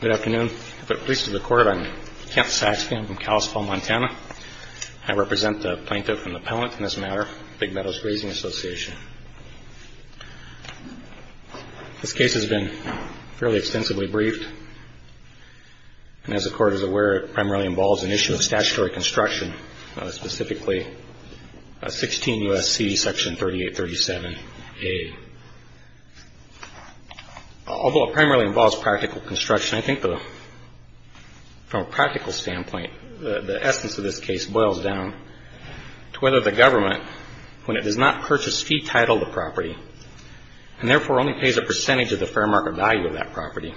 Good afternoon. I'm Kent Saxby. I'm from Kalispell, Montana. I represent the plaintiff and the appellant in this matter, Big Meadows Grazing Association. This case has been fairly extensively briefed. And as the Court is aware, it primarily involves an issue of statutory construction, specifically 16 U.S.C. Section 3837A. Although it primarily involves practical construction, I think from a practical standpoint, the essence of this case boils down to whether the government, when it does not purchase fee-titled a property and therefore only pays a percentage of the fair market value of that property,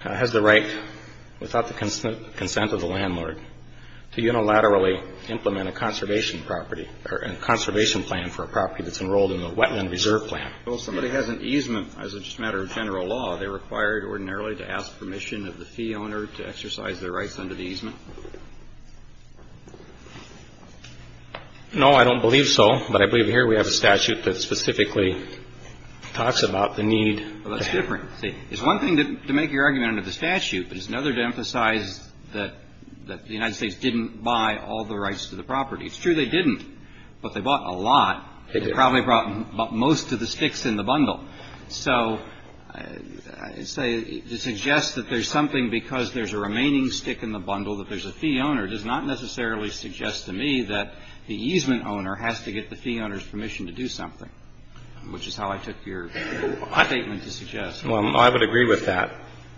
has the right, without the consent of the landlord, to unilaterally implement a conservation property or a conservation plan for a property that's enrolled in the Wetland Reserve Plan. Well, if somebody has an easement, as a matter of general law, are they required ordinarily to ask permission of the fee owner to exercise their rights under the easement? No, I don't believe so. But I believe here we have a statute that specifically talks about the need. Well, that's different. See, it's one thing to make your argument under the statute, but it's another to emphasize that the United States didn't buy all the rights to the property. It's true they didn't, but they bought a lot. They probably brought most of the sticks in the bundle. So to suggest that there's something because there's a remaining stick in the bundle that there's a fee owner does not necessarily suggest to me that the easement owner has to get the fee owner's permission to do something, which is how I took your statement to suggest. Well, I would agree with that.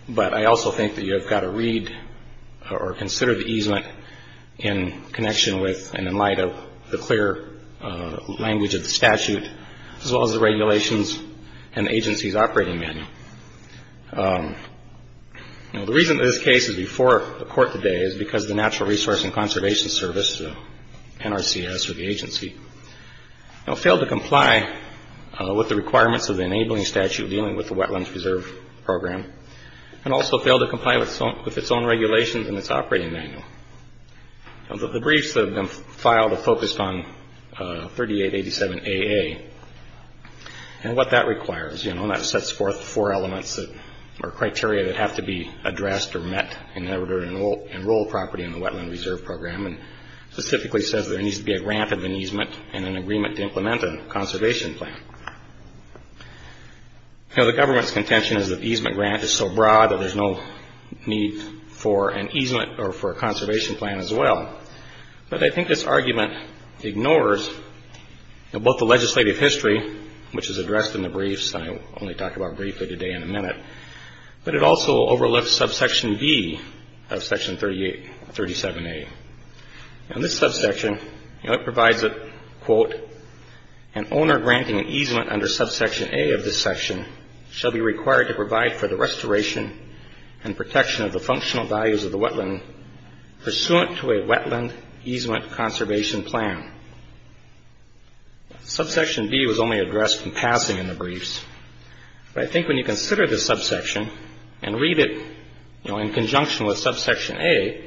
But I also think that you have got to read or consider the easement in connection with and in light of the clear language of the statute, as well as the regulations and the agency's operating manual. Now, the reason this case is before the court today is because the Natural Resource and Conservation Service, NRCS, or the agency, failed to comply with the requirements of the enabling statute dealing with the Wetlands Preserve Program and also failed to comply with its own regulations and its operating manual. The briefs that have been filed have focused on 3887AA. And what that requires, you know, and that sets forth four elements or criteria that have to be addressed or met in order to enroll property in the Wetland Reserve Program and specifically says there needs to be a grant of an easement and an agreement to implement a conservation plan. You know, the government's contention is that the easement grant is so broad that there's no need for an easement or for a conservation plan, as well. But I think this argument ignores both the legislative history, which is addressed in the briefs, and I will only talk about briefly today in a minute, but it also overlooks Subsection B of Section 37A. In this subsection, you know, it provides a, quote, an owner granting an easement under Subsection A of this section shall be required to provide for the restoration and protection of the functional values of the wetland pursuant to a wetland easement conservation plan. Subsection B was only addressed in passing in the briefs, but I think when you consider this subsection and read it, you know, in conjunction with Subsection A,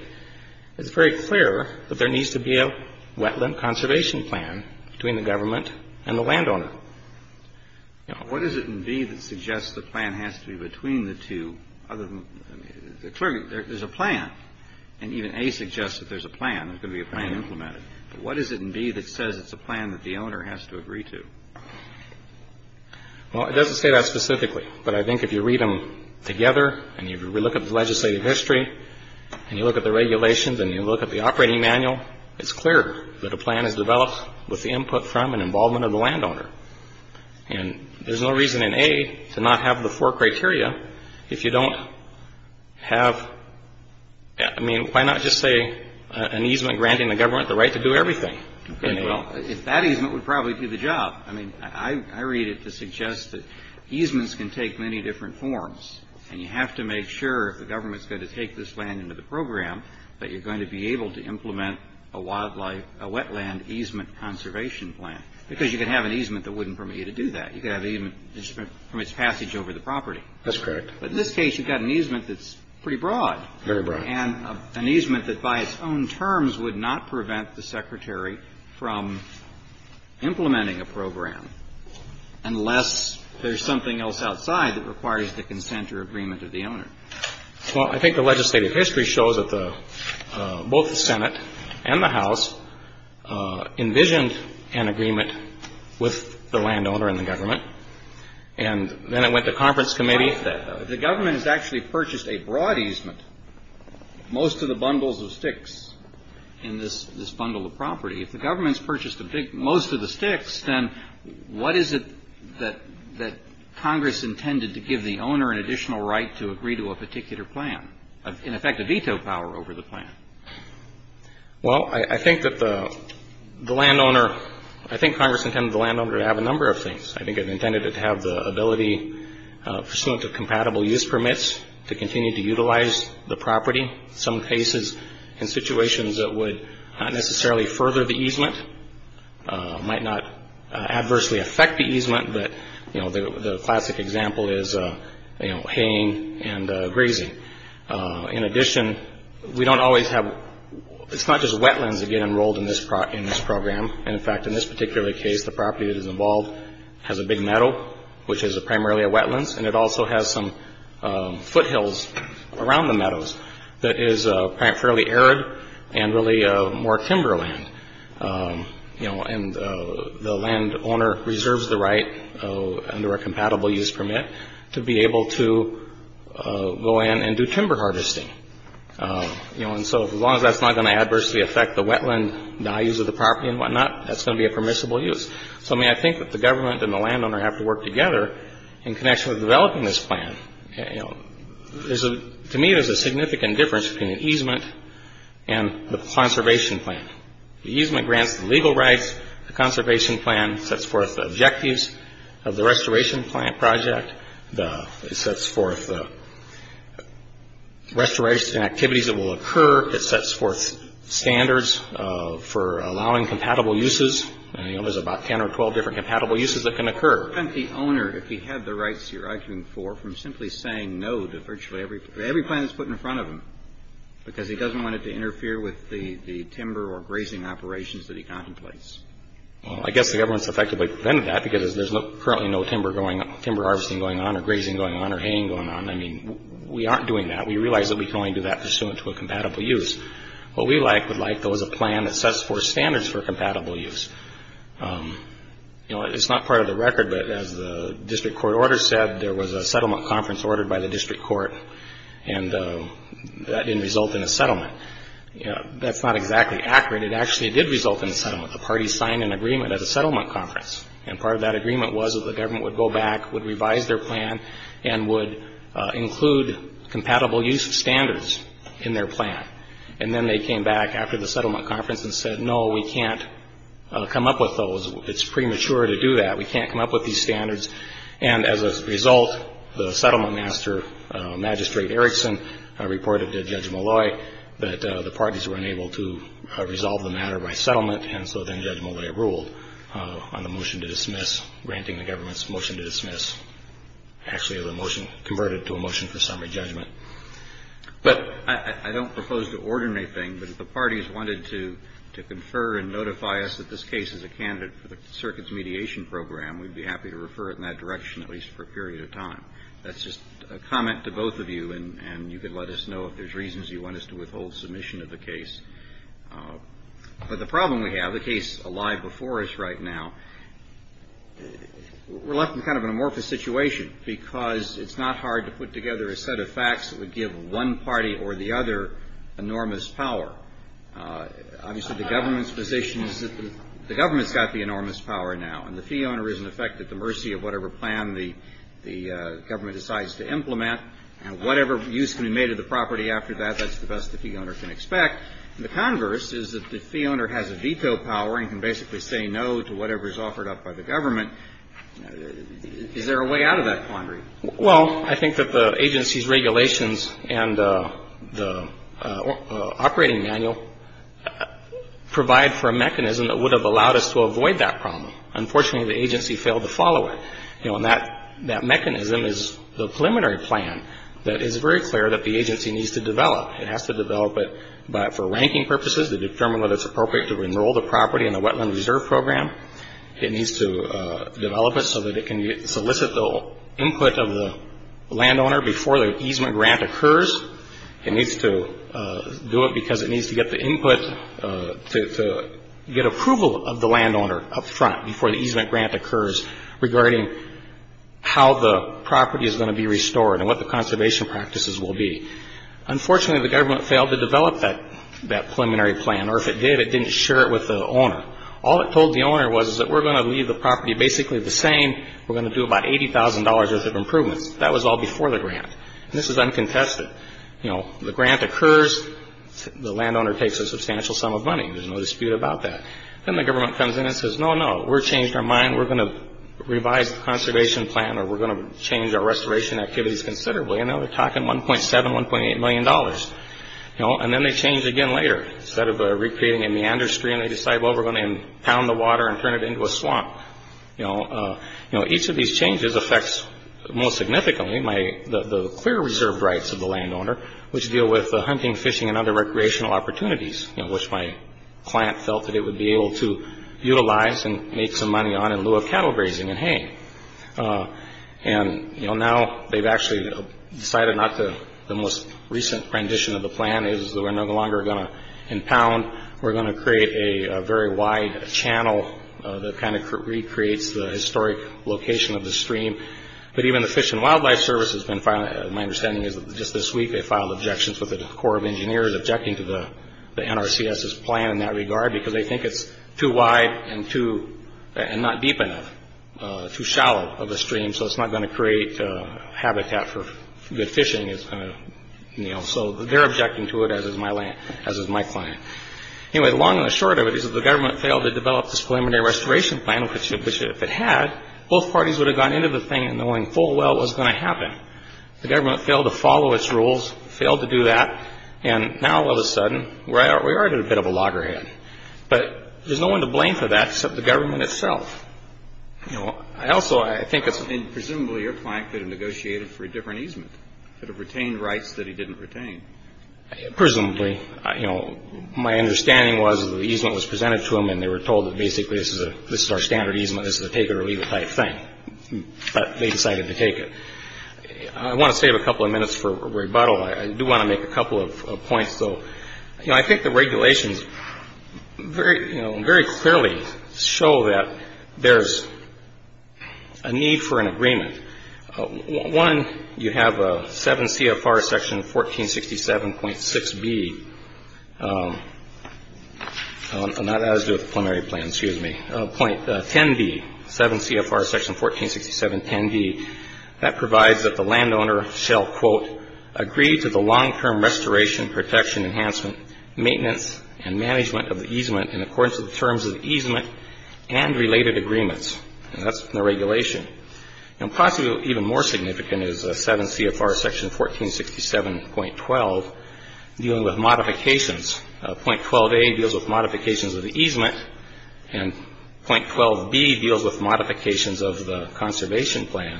it's very clear that there needs to be a wetland conservation plan between the government and the landowner. What is it in B that suggests the plan has to be between the two? Clearly, there's a plan, and even A suggests that there's a plan, there's going to be a plan implemented, but what is it in B that says it's a plan that the owner has to agree to? Well, it doesn't say that specifically, but I think if you read them together and you look at the legislative history and you look at the regulations and you look at the operating manual, it's clear that a plan is developed with the input from and involvement of the landowner. And there's no reason in A to not have the four criteria if you don't have, I mean, why not just say an easement granting the government the right to do everything? Okay, well, that easement would probably do the job. I mean, I read it to suggest that easements can take many different forms, and you have to make sure if the government's going to take this land into the program that you're going to be able to implement a wildlife, a wetland easement conservation plan because you can have an easement that wouldn't permit you to do that. You could have an easement that just permits passage over the property. That's correct. But in this case, you've got an easement that's pretty broad. Very broad. And an easement that by its own terms would not prevent the Secretary from implementing a program unless there's something else outside that requires the consent or agreement of the owner. Well, I think the legislative history shows that both the Senate and the House envisioned an agreement with the landowner and the government, and then it went to conference committee. The government has actually purchased a broad easement, most of the bundles of sticks in this bundle of property. If the government's purchased most of the sticks, then what is it that Congress intended to give the owner an additional right to agree to a particular plan? In effect, a veto power over the plan. Well, I think that the landowner, I think Congress intended the landowner to have a number of things. I think it intended to have the ability pursuant to compatible use permits to continue to utilize the property. Some cases in situations that would not necessarily further the easement, might not adversely affect the easement, but the classic example is haying and grazing. In addition, we don't always have, it's not just wetlands that get enrolled in this program. In fact, in this particular case, the property that is involved has a big meadow, which is primarily a wetlands, and it also has some foothills around the meadows that is fairly arid and really more timberland. The landowner reserves the right under a compatible use permit to be able to go in and do timber harvesting. As long as that's not going to adversely affect the wetland values of the property and whatnot, that's going to be a permissible use. I think that the government and the landowner have to work together in connection with developing this plan. To me, there's a significant difference between an easement and the conservation plan. The easement grants the legal rights. The conservation plan sets forth the objectives of the restoration plan project. It sets forth the restoration activities that will occur. It sets forth standards for allowing compatible uses. There's about 10 or 12 different compatible uses that can occur. Why prevent the owner, if he had the rights you're arguing for, from simply saying no to virtually every plan that's put in front of him because he doesn't want it to interfere with the timber or grazing operations that he contemplates? I guess the government's effectively prevented that because there's currently no timber harvesting going on or grazing going on or haying going on. We aren't doing that. We realize that we can only do that pursuant to a compatible use. What we would like, though, is a plan that sets forth standards for compatible use. It's not part of the record, but as the district court order said, there was a settlement conference ordered by the district court and that didn't result in a settlement. That's not exactly accurate. It actually did result in a settlement. The parties signed an agreement at a settlement conference. Part of that agreement was that the government would go back, would revise their plan, and would include compatible use standards in their plan. Then they came back after the settlement conference and said, no, we can't come up with those. It's premature to do that. We can't come up with these standards. As a result, the settlement master, Magistrate Erickson, reported to Judge Malloy that the parties were unable to resolve the matter by settlement, and so then Judge Malloy ruled on the motion to dismiss, granting the government's motion to dismiss. Actually, the motion converted to a motion for summary judgment. But I don't propose to order anything, but if the parties wanted to confer and notify us that this case is a candidate for the circuits mediation program, we'd be happy to refer it in that direction at least for a period of time. That's just a comment to both of you, and you can let us know if there's reasons you want us to withhold submission of the case. But the problem we have, the case alive before us right now, we're left in kind of an amorphous situation because it's not hard to put together a set of facts that would give one party or the other enormous power. Obviously, the government's position is that the government's got the enormous power now, and the fee owner is, in effect, at the mercy of whatever plan the government decides to implement, and whatever use can be made of the property after that, that's the best the fee owner can expect. The converse is that the fee owner has a veto power and can basically say no to whatever is offered up by the government. Is there a way out of that quandary? Well, I think that the agency's regulations and the operating manual provide for a mechanism that would have allowed us to avoid that problem. Unfortunately, the agency failed to follow it. That mechanism is the preliminary plan that is very clear that the agency needs to develop. It has to develop it for ranking purposes to determine whether it's appropriate to enroll the property in the Wetland Reserve Program. It needs to develop it so that it can solicit the input of the landowner before the easement grant occurs. It needs to do it because it needs to get the input to get approval of the landowner up front before the easement grant occurs regarding how the property is going to be restored and what the conservation practices will be. Unfortunately, the government failed to develop that preliminary plan, or if it did, it didn't share it with the owner. All it told the owner was is that we're going to leave the property basically the same. We're going to do about $80,000 worth of improvements. That was all before the grant, and this is uncontested. The grant occurs. The landowner takes a substantial sum of money. There's no dispute about that. Then the government comes in and says, no, no, we're changing our mind. We're going to revise the conservation plan, or we're going to change our restoration activities considerably. Now they're talking $1.7, $1.8 million. Then they change again later. Instead of recreating a meander stream, they decide, well, we're going to impound the water and turn it into a swamp. Each of these changes affects, most significantly, the clear reserve rights of the landowner, which deal with hunting, fishing, and other recreational opportunities, which my client felt that it would be able to utilize and make some money on in lieu of cattle grazing and hay. Now they've actually decided not to. The most recent rendition of the plan is that we're no longer going to impound. We're going to create a very wide channel that kind of recreates the historic location of the stream. But even the Fish and Wildlife Service, my understanding is that just this week, they filed objections with the Corps of Engineers objecting to the NRCS's plan in that regard because they think it's too wide and not deep enough, too shallow of a stream, so it's not going to create habitat for good fishing. So they're objecting to it, as is my client. Anyway, long and short of it is that the government failed to develop this preliminary restoration plan, which if it had, both parties would have gotten into the thing knowing full well it was going to happen. The government failed to follow its rules, failed to do that, and now all of a sudden we're already at a bit of a loggerhead. But there's no one to blame for that except the government itself. I also think it's... Presumably your client could have negotiated for a different easement, could have retained rights that he didn't retain. Presumably. My understanding was that the easement was presented to them and they were told that basically this is our standard easement, this is a take-it-or-leave-it type thing. But they decided to take it. I want to save a couple of minutes for rebuttal. I do want to make a couple of points. I think the regulations very clearly show that there's a need for an agreement. One, you have 7 CFR section 1467.6b. That has to do with the preliminary plan, excuse me. Point 10b, 7 CFR section 1467.10b. That provides that the landowner shall, quote, agree to the long-term restoration, protection, enhancement, maintenance, and management of the easement in accordance with the terms of the easement and related agreements. That's the regulation. And possibly even more significant is 7 CFR section 1467.12 dealing with modifications. Point 12a deals with modifications of the easement. And point 12b deals with modifications of the conservation plan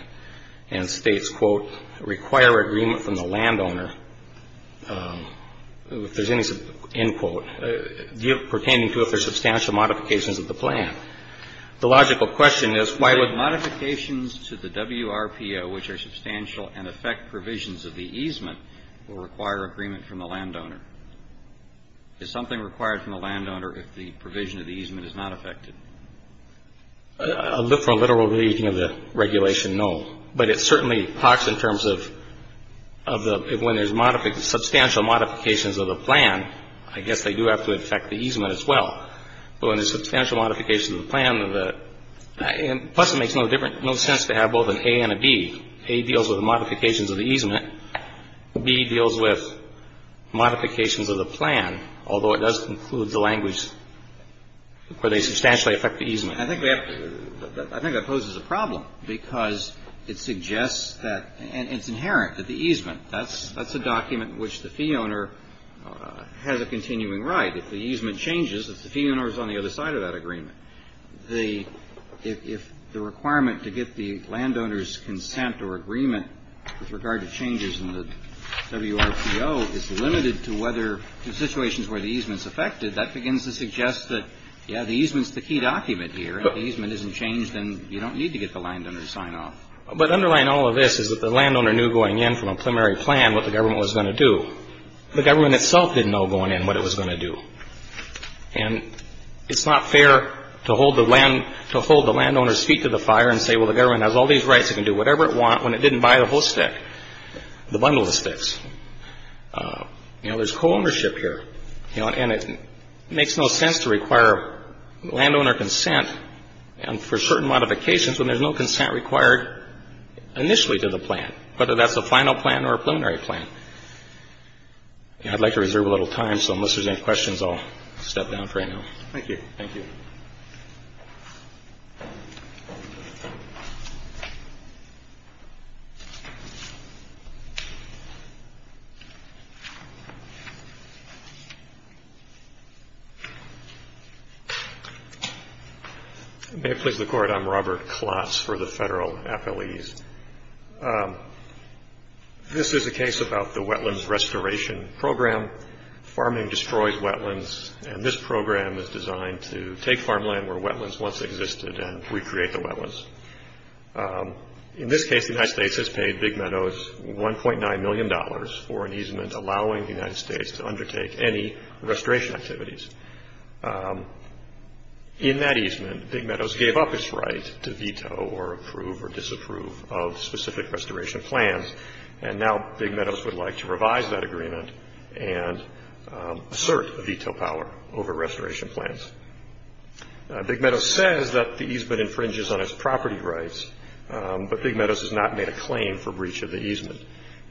and states, quote, require agreement from the landowner, if there's any, end quote, pertaining to if there's substantial modifications of the plan. The logical question is why would... Modifications to the WRPO, which are substantial and affect provisions of the easement, will require agreement from the landowner. Is something required from the landowner if the provision of the easement is not affected? I'll look for a literal reading of the regulation, no. But it certainly talks in terms of when there's substantial modifications of the plan, I guess they do have to affect the easement as well. But when there's substantial modifications of the plan, plus it makes no sense to have both an A and a B. A deals with the modifications of the easement. B deals with modifications of the plan, although it does include the language where they substantially affect the easement. I think that poses a problem because it suggests that, and it's inherent, that the easement, that's a document in which the fee owner has a continuing right. If the easement changes, if the fee owner is on the other side of that agreement, if the requirement to get the landowner's consent or agreement with regard to changes in the WRPO is limited to situations where the easement's affected, that begins to suggest that, yeah, the easement's the key document here. If the easement isn't changed, then you don't need to get the landowner to sign off. But underlying all of this is that the landowner knew going in from a preliminary plan what the government was going to do. The government itself didn't know going in what it was going to do. And it's not fair to hold the landowner's feet to the fire and say, well, the government has all these rights. It can do whatever it wants when it didn't buy the whole stick, the bundle of sticks. You know, there's co-ownership here. And it makes no sense to require landowner consent for certain modifications when there's no consent required initially to the plan, whether that's a final plan or a preliminary plan. Yeah, I'd like to reserve a little time, so unless there's any questions, I'll step down for right now. Thank you. Thank you. May it please the Court, I'm Robert Klotz for the federal affilies. This is a case about the Wetlands Restoration Program. Farming destroys wetlands, and this program is designed to take farmland where wetlands once existed and recreate the wetlands. In this case, the United States has paid Big Meadows $1.9 million for an easement allowing the United States to undertake any restoration activities. In that easement, Big Meadows gave up its right to veto or approve or disapprove of specific restoration plans, and now Big Meadows would like to revise that agreement and assert a veto power over restoration plans. Big Meadows says that the easement infringes on its property rights, but Big Meadows has not made a claim for breach of the easement.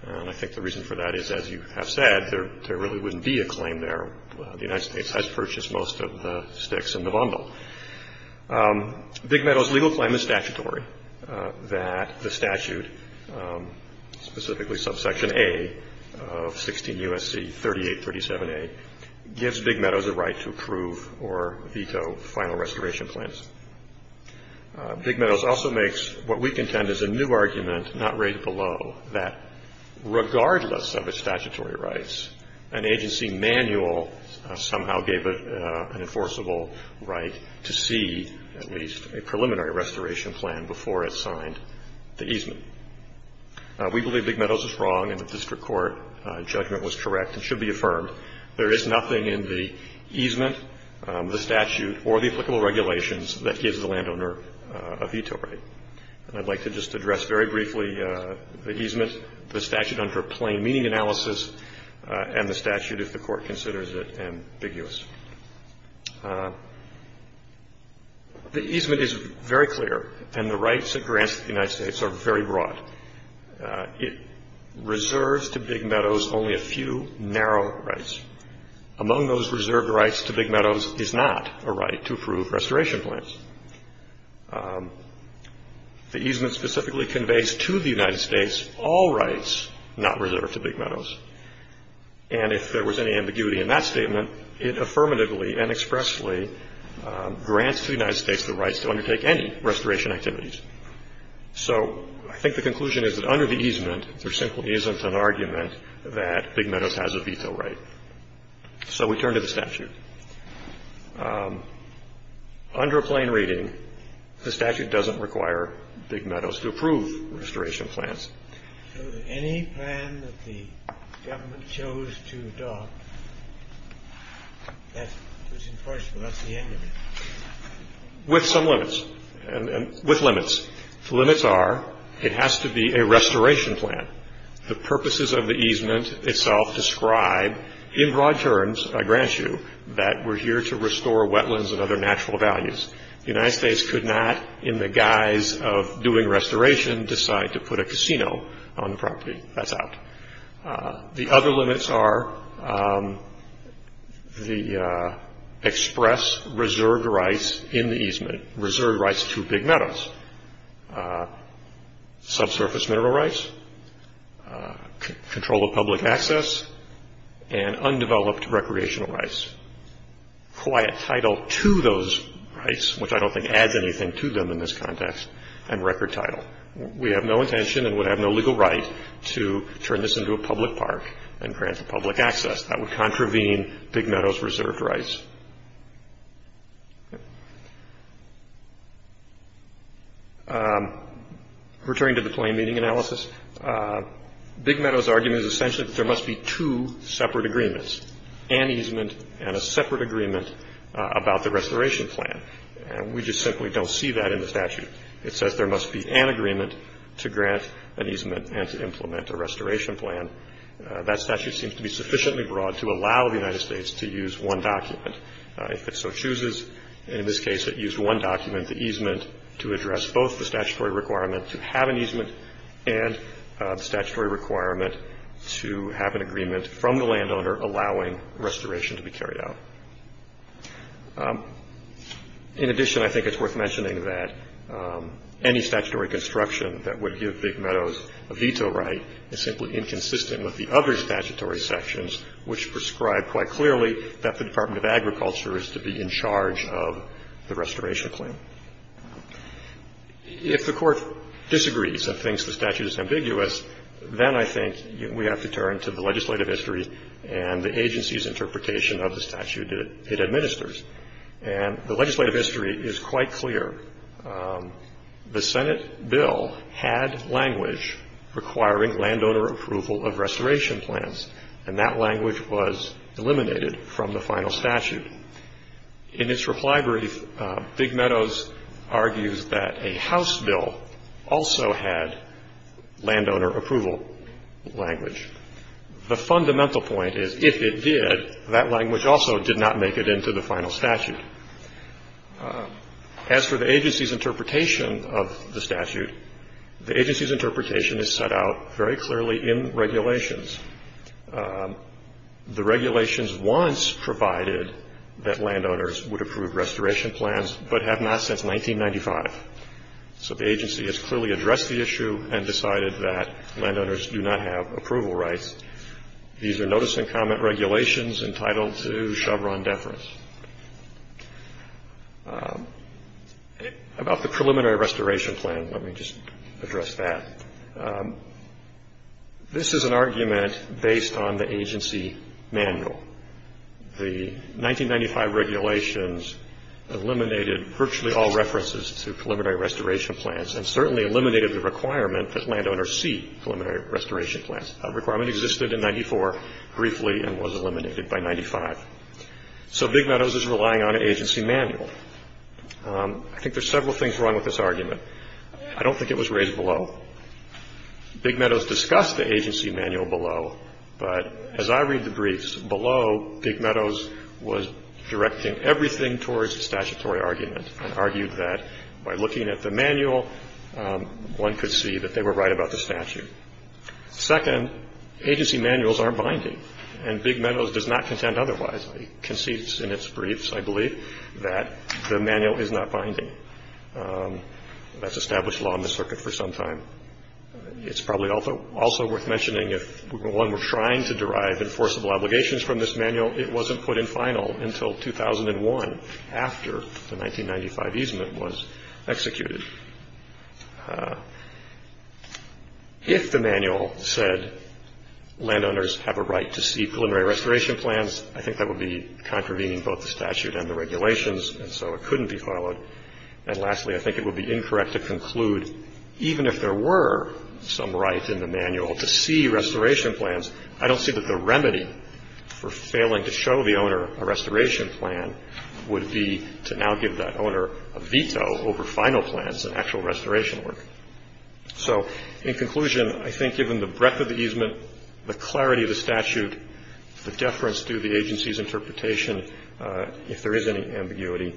And I think the reason for that is, as you have said, there really wouldn't be a claim there. The United States has purchased most of the sticks in the bundle. Big Meadows' legal claim is statutory, that the statute, specifically subsection A of 16 U.S.C. 3837A, gives Big Meadows a right to approve or veto final restoration plans. Big Meadows also makes what we contend is a new argument, not raised below, that regardless of its statutory rights, an agency manual somehow gave it an enforceable right to see, at least, a preliminary restoration plan before it signed the easement. We believe Big Meadows is wrong, and the district court judgment was correct and should be affirmed. There is nothing in the easement, the statute, or the applicable regulations that gives the landowner a veto right. And I'd like to just address very briefly the easement, the statute under plain meaning analysis, and the statute, if the Court considers it ambiguous. The easement is very clear, and the rights it grants the United States are very broad. It reserves to Big Meadows only a few narrow rights. Among those reserved rights to Big Meadows is not a right to approve restoration plans. The easement specifically conveys to the United States all rights not reserved to Big Meadows. And if there was any ambiguity in that statement, it affirmatively and expressly grants the United States the rights to undertake any restoration activities. So I think the conclusion is that under the easement, there simply isn't an argument that Big Meadows has a veto right. So we turn to the statute. Under plain reading, the statute doesn't require Big Meadows to approve restoration plans. So any plan that the government chose to adopt, that was enforceable. That's the end of it. With some limits. With limits. The limits are it has to be a restoration plan. The purposes of the easement itself describe, in broad terms, I grant you, that we're here to restore wetlands and other natural values. The United States could not, in the guise of doing restoration, decide to put a casino on the property. That's out. The other limits are the express reserved rights in the easement. Reserved rights to Big Meadows. Subsurface mineral rights. Control of public access. And undeveloped recreational rights. Quiet title to those rights, which I don't think adds anything to them in this context, and record title. We have no intention and would have no legal right to turn this into a public park and grant public access. That would contravene Big Meadows reserved rights. Returning to the plain reading analysis, Big Meadows' argument is essentially that there must be two separate agreements. An easement and a separate agreement about the restoration plan. And we just simply don't see that in the statute. It says there must be an agreement to grant an easement and to implement a restoration plan. That statute seems to be sufficiently broad to allow the United States to use one document. If it so chooses, in this case it used one document, the easement, to address both the statutory requirement to have an easement and the statutory requirement to have an agreement from the landowner allowing restoration to be carried out. In addition, I think it's worth mentioning that any statutory construction that would give Big Meadows a veto right is simply inconsistent with the other statutory sections, which prescribe quite clearly that the Department of Agriculture is to be in charge of the restoration claim. If the court disagrees and thinks the statute is ambiguous, then I think we have to turn to the legislative history and the agency's interpretation of the statute it administers. And the legislative history is quite clear. The Senate bill had language requiring landowner approval of restoration plans, and that language was eliminated from the final statute. In its reply brief, Big Meadows argues that a House bill also had landowner approval language. The fundamental point is if it did, that language also did not make it into the final statute. As for the agency's interpretation of the statute, the agency's interpretation is set out very clearly in regulations. The regulations once provided that landowners would approve restoration plans, but have not since 1995. So the agency has clearly addressed the issue and decided that landowners do not have approval rights. These are notice and comment regulations entitled to Chevron deference. About the preliminary restoration plan, let me just address that. This is an argument based on the agency manual. The 1995 regulations eliminated virtually all references to preliminary restoration plans and certainly eliminated the requirement that landowners see preliminary restoration plans. That requirement existed in 94 briefly and was eliminated by 95. So Big Meadows is relying on an agency manual. I think there's several things wrong with this argument. I don't think it was raised below. Big Meadows discussed the agency manual below. But as I read the briefs, below Big Meadows was directing everything towards the statutory argument and argued that by looking at the manual, one could see that they were right about the statute. Second, agency manuals aren't binding. And Big Meadows does not contend otherwise. It concedes in its briefs, I believe, that the manual is not binding. That's established law in the circuit for some time. It's probably also worth mentioning if one were trying to derive enforceable obligations from this manual, it wasn't put in final until 2001 after the 1995 easement was executed. If the manual said landowners have a right to see preliminary restoration plans, I think that would be contravening both the statute and the regulations, and so it couldn't be followed. And lastly, I think it would be incorrect to conclude, even if there were some right in the manual to see restoration plans, I don't see that the remedy for failing to show the owner a restoration plan would be to now give that owner a veto over final plans and actual restoration work. So in conclusion, I think given the breadth of the easement, the clarity of the statute, the deference to the agency's interpretation, if there is any ambiguity,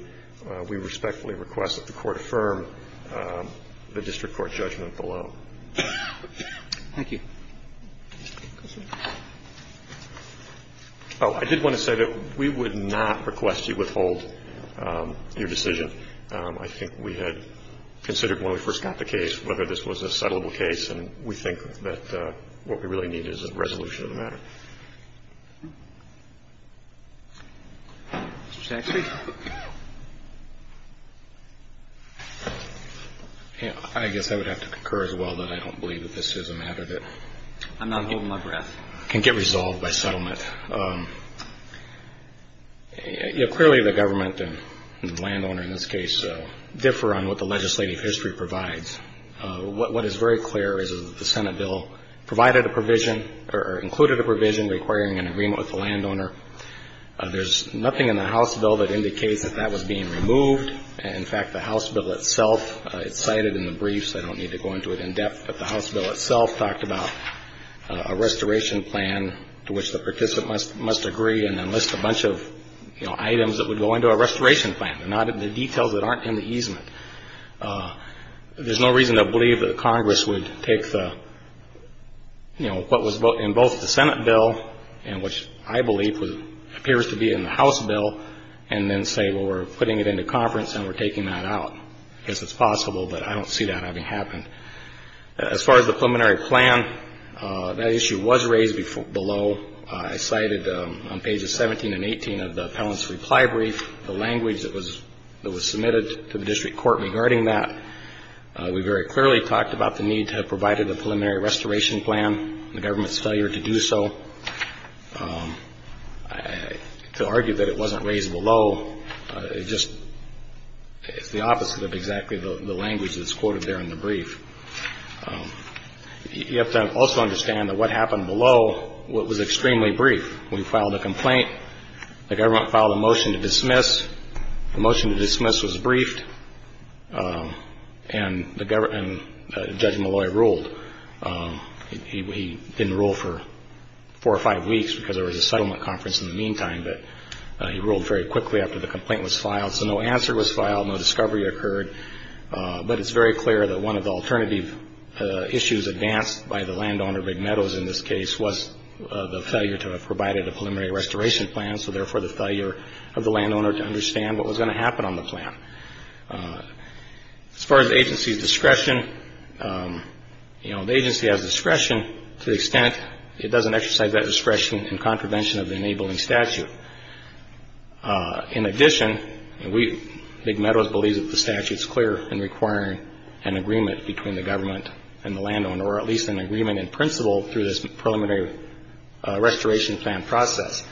we respectfully request that the Court affirm the district court judgment below. Thank you. Oh, I did want to say that we would not request you withhold your decision. I think we had considered when we first got the case whether this was a settlable case, and we think that what we really need is a resolution to the matter. Thank you. Mr. Saxby. I guess I would have to concur as well that I don't believe that this is a matter that can get resolved by settlement. Clearly the government and the landowner in this case differ on what the legislative history provides. What is very clear is that the Senate bill provided a provision or included a provision requiring an agreement with the landowner. There's nothing in the House bill that indicates that that was being removed. In fact, the House bill itself is cited in the brief, so I don't need to go into it in depth, but the House bill itself talked about a restoration plan to which the participant must agree and then list a bunch of items that would go into a restoration plan. They're not in the details that aren't in the easement. There's no reason to believe that Congress would take what was in both the Senate bill and which I believe appears to be in the House bill and then say, well, we're putting it into conference and we're taking that out. I guess it's possible, but I don't see that having happened. As far as the preliminary plan, that issue was raised below. I cited on pages 17 and 18 of the appellant's reply brief the language that was submitted to the district court regarding that. We very clearly talked about the need to have provided a preliminary restoration plan. The government's failure to do so, to argue that it wasn't raised below, it just is the opposite of exactly the language that's quoted there in the brief. You have to also understand that what happened below was extremely brief. We filed a complaint. The government filed a motion to dismiss. The motion to dismiss was briefed, and Judge Malloy ruled. He didn't rule for four or five weeks because there was a settlement conference in the meantime, but he ruled very quickly after the complaint was filed. So no answer was filed. No discovery occurred. But it's very clear that one of the alternative issues advanced by the landowner, McNeadows in this case, was the failure to have provided a preliminary restoration plan, so therefore the failure of the landowner to understand what was going to happen on the plan. As far as the agency's discretion, the agency has discretion to the extent it doesn't exercise that discretion in contravention of the enabling statute. In addition, McNeadows believes that the statute is clear in requiring an agreement between the government and the landowner, or at least an agreement in principle through this preliminary restoration plan process.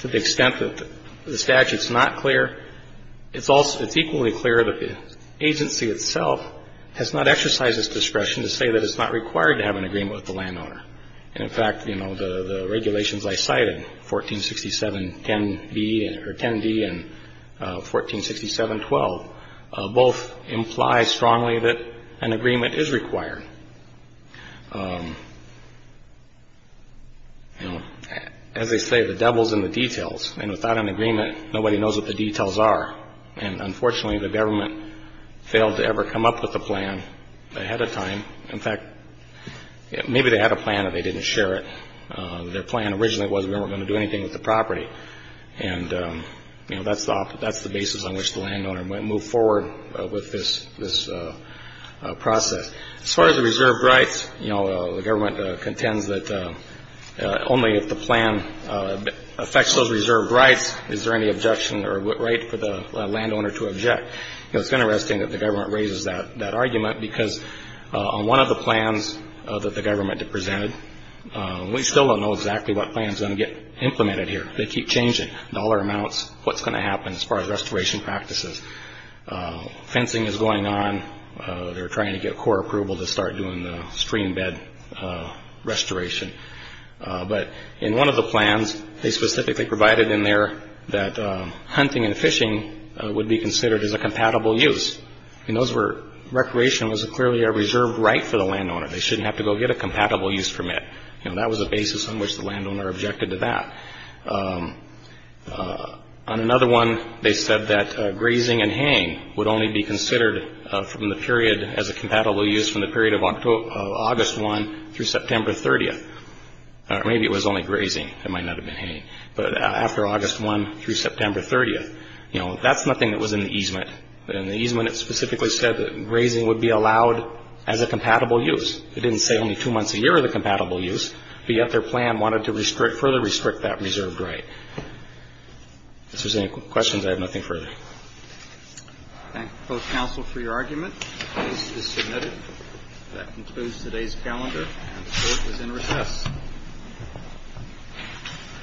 To the extent that the statute's not clear, it's equally clear that the agency itself has not exercised its discretion to say that it's not required to have an agreement with the landowner. And in fact, you know, the regulations I cited, 1467.10b or 10d and 1467.12, both imply strongly that an agreement is required. You know, as they say, the devil's in the details. And without an agreement, nobody knows what the details are. And unfortunately, the government failed to ever come up with a plan ahead of time. In fact, maybe they had a plan and they didn't share it. Their plan originally was we weren't going to do anything with the property. And, you know, that's the basis on which the landowner moved forward with this process. As far as the reserved rights, you know, the government contends that only if the plan affects those reserved rights is there any objection or right for the landowner to object. You know, it's kind of interesting that the government raises that argument because on one of the plans that the government presented, we still don't know exactly what plan's going to get implemented here. They keep changing dollar amounts, what's going to happen as far as restoration practices. Fencing is going on. They're trying to get core approval to start doing the stream bed restoration. But in one of the plans, they specifically provided in there that hunting and fishing would be considered as a compatible use. And those were, recreation was clearly a reserved right for the landowner. They shouldn't have to go get a compatible use permit. You know, that was the basis on which the landowner objected to that. On another one, they said that grazing and haying would only be considered from the period as a compatible use from the period of August 1 through September 30th. Maybe it was only grazing, it might not have been haying. But after August 1 through September 30th, you know, that's nothing that was in the easement. In the easement, it specifically said that grazing would be allowed as a compatible use. It didn't say only two months a year of the compatible use. But yet their plan wanted to further restrict that reserved right. If there's any questions, I have nothing further. Thank you, both counsel, for your argument. Case is submitted. That concludes today's calendar, and the court is in recess.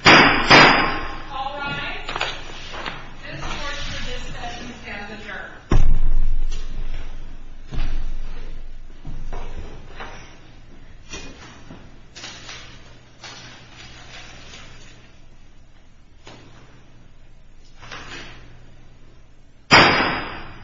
All rise. This court is dismissed as we stand adjourned.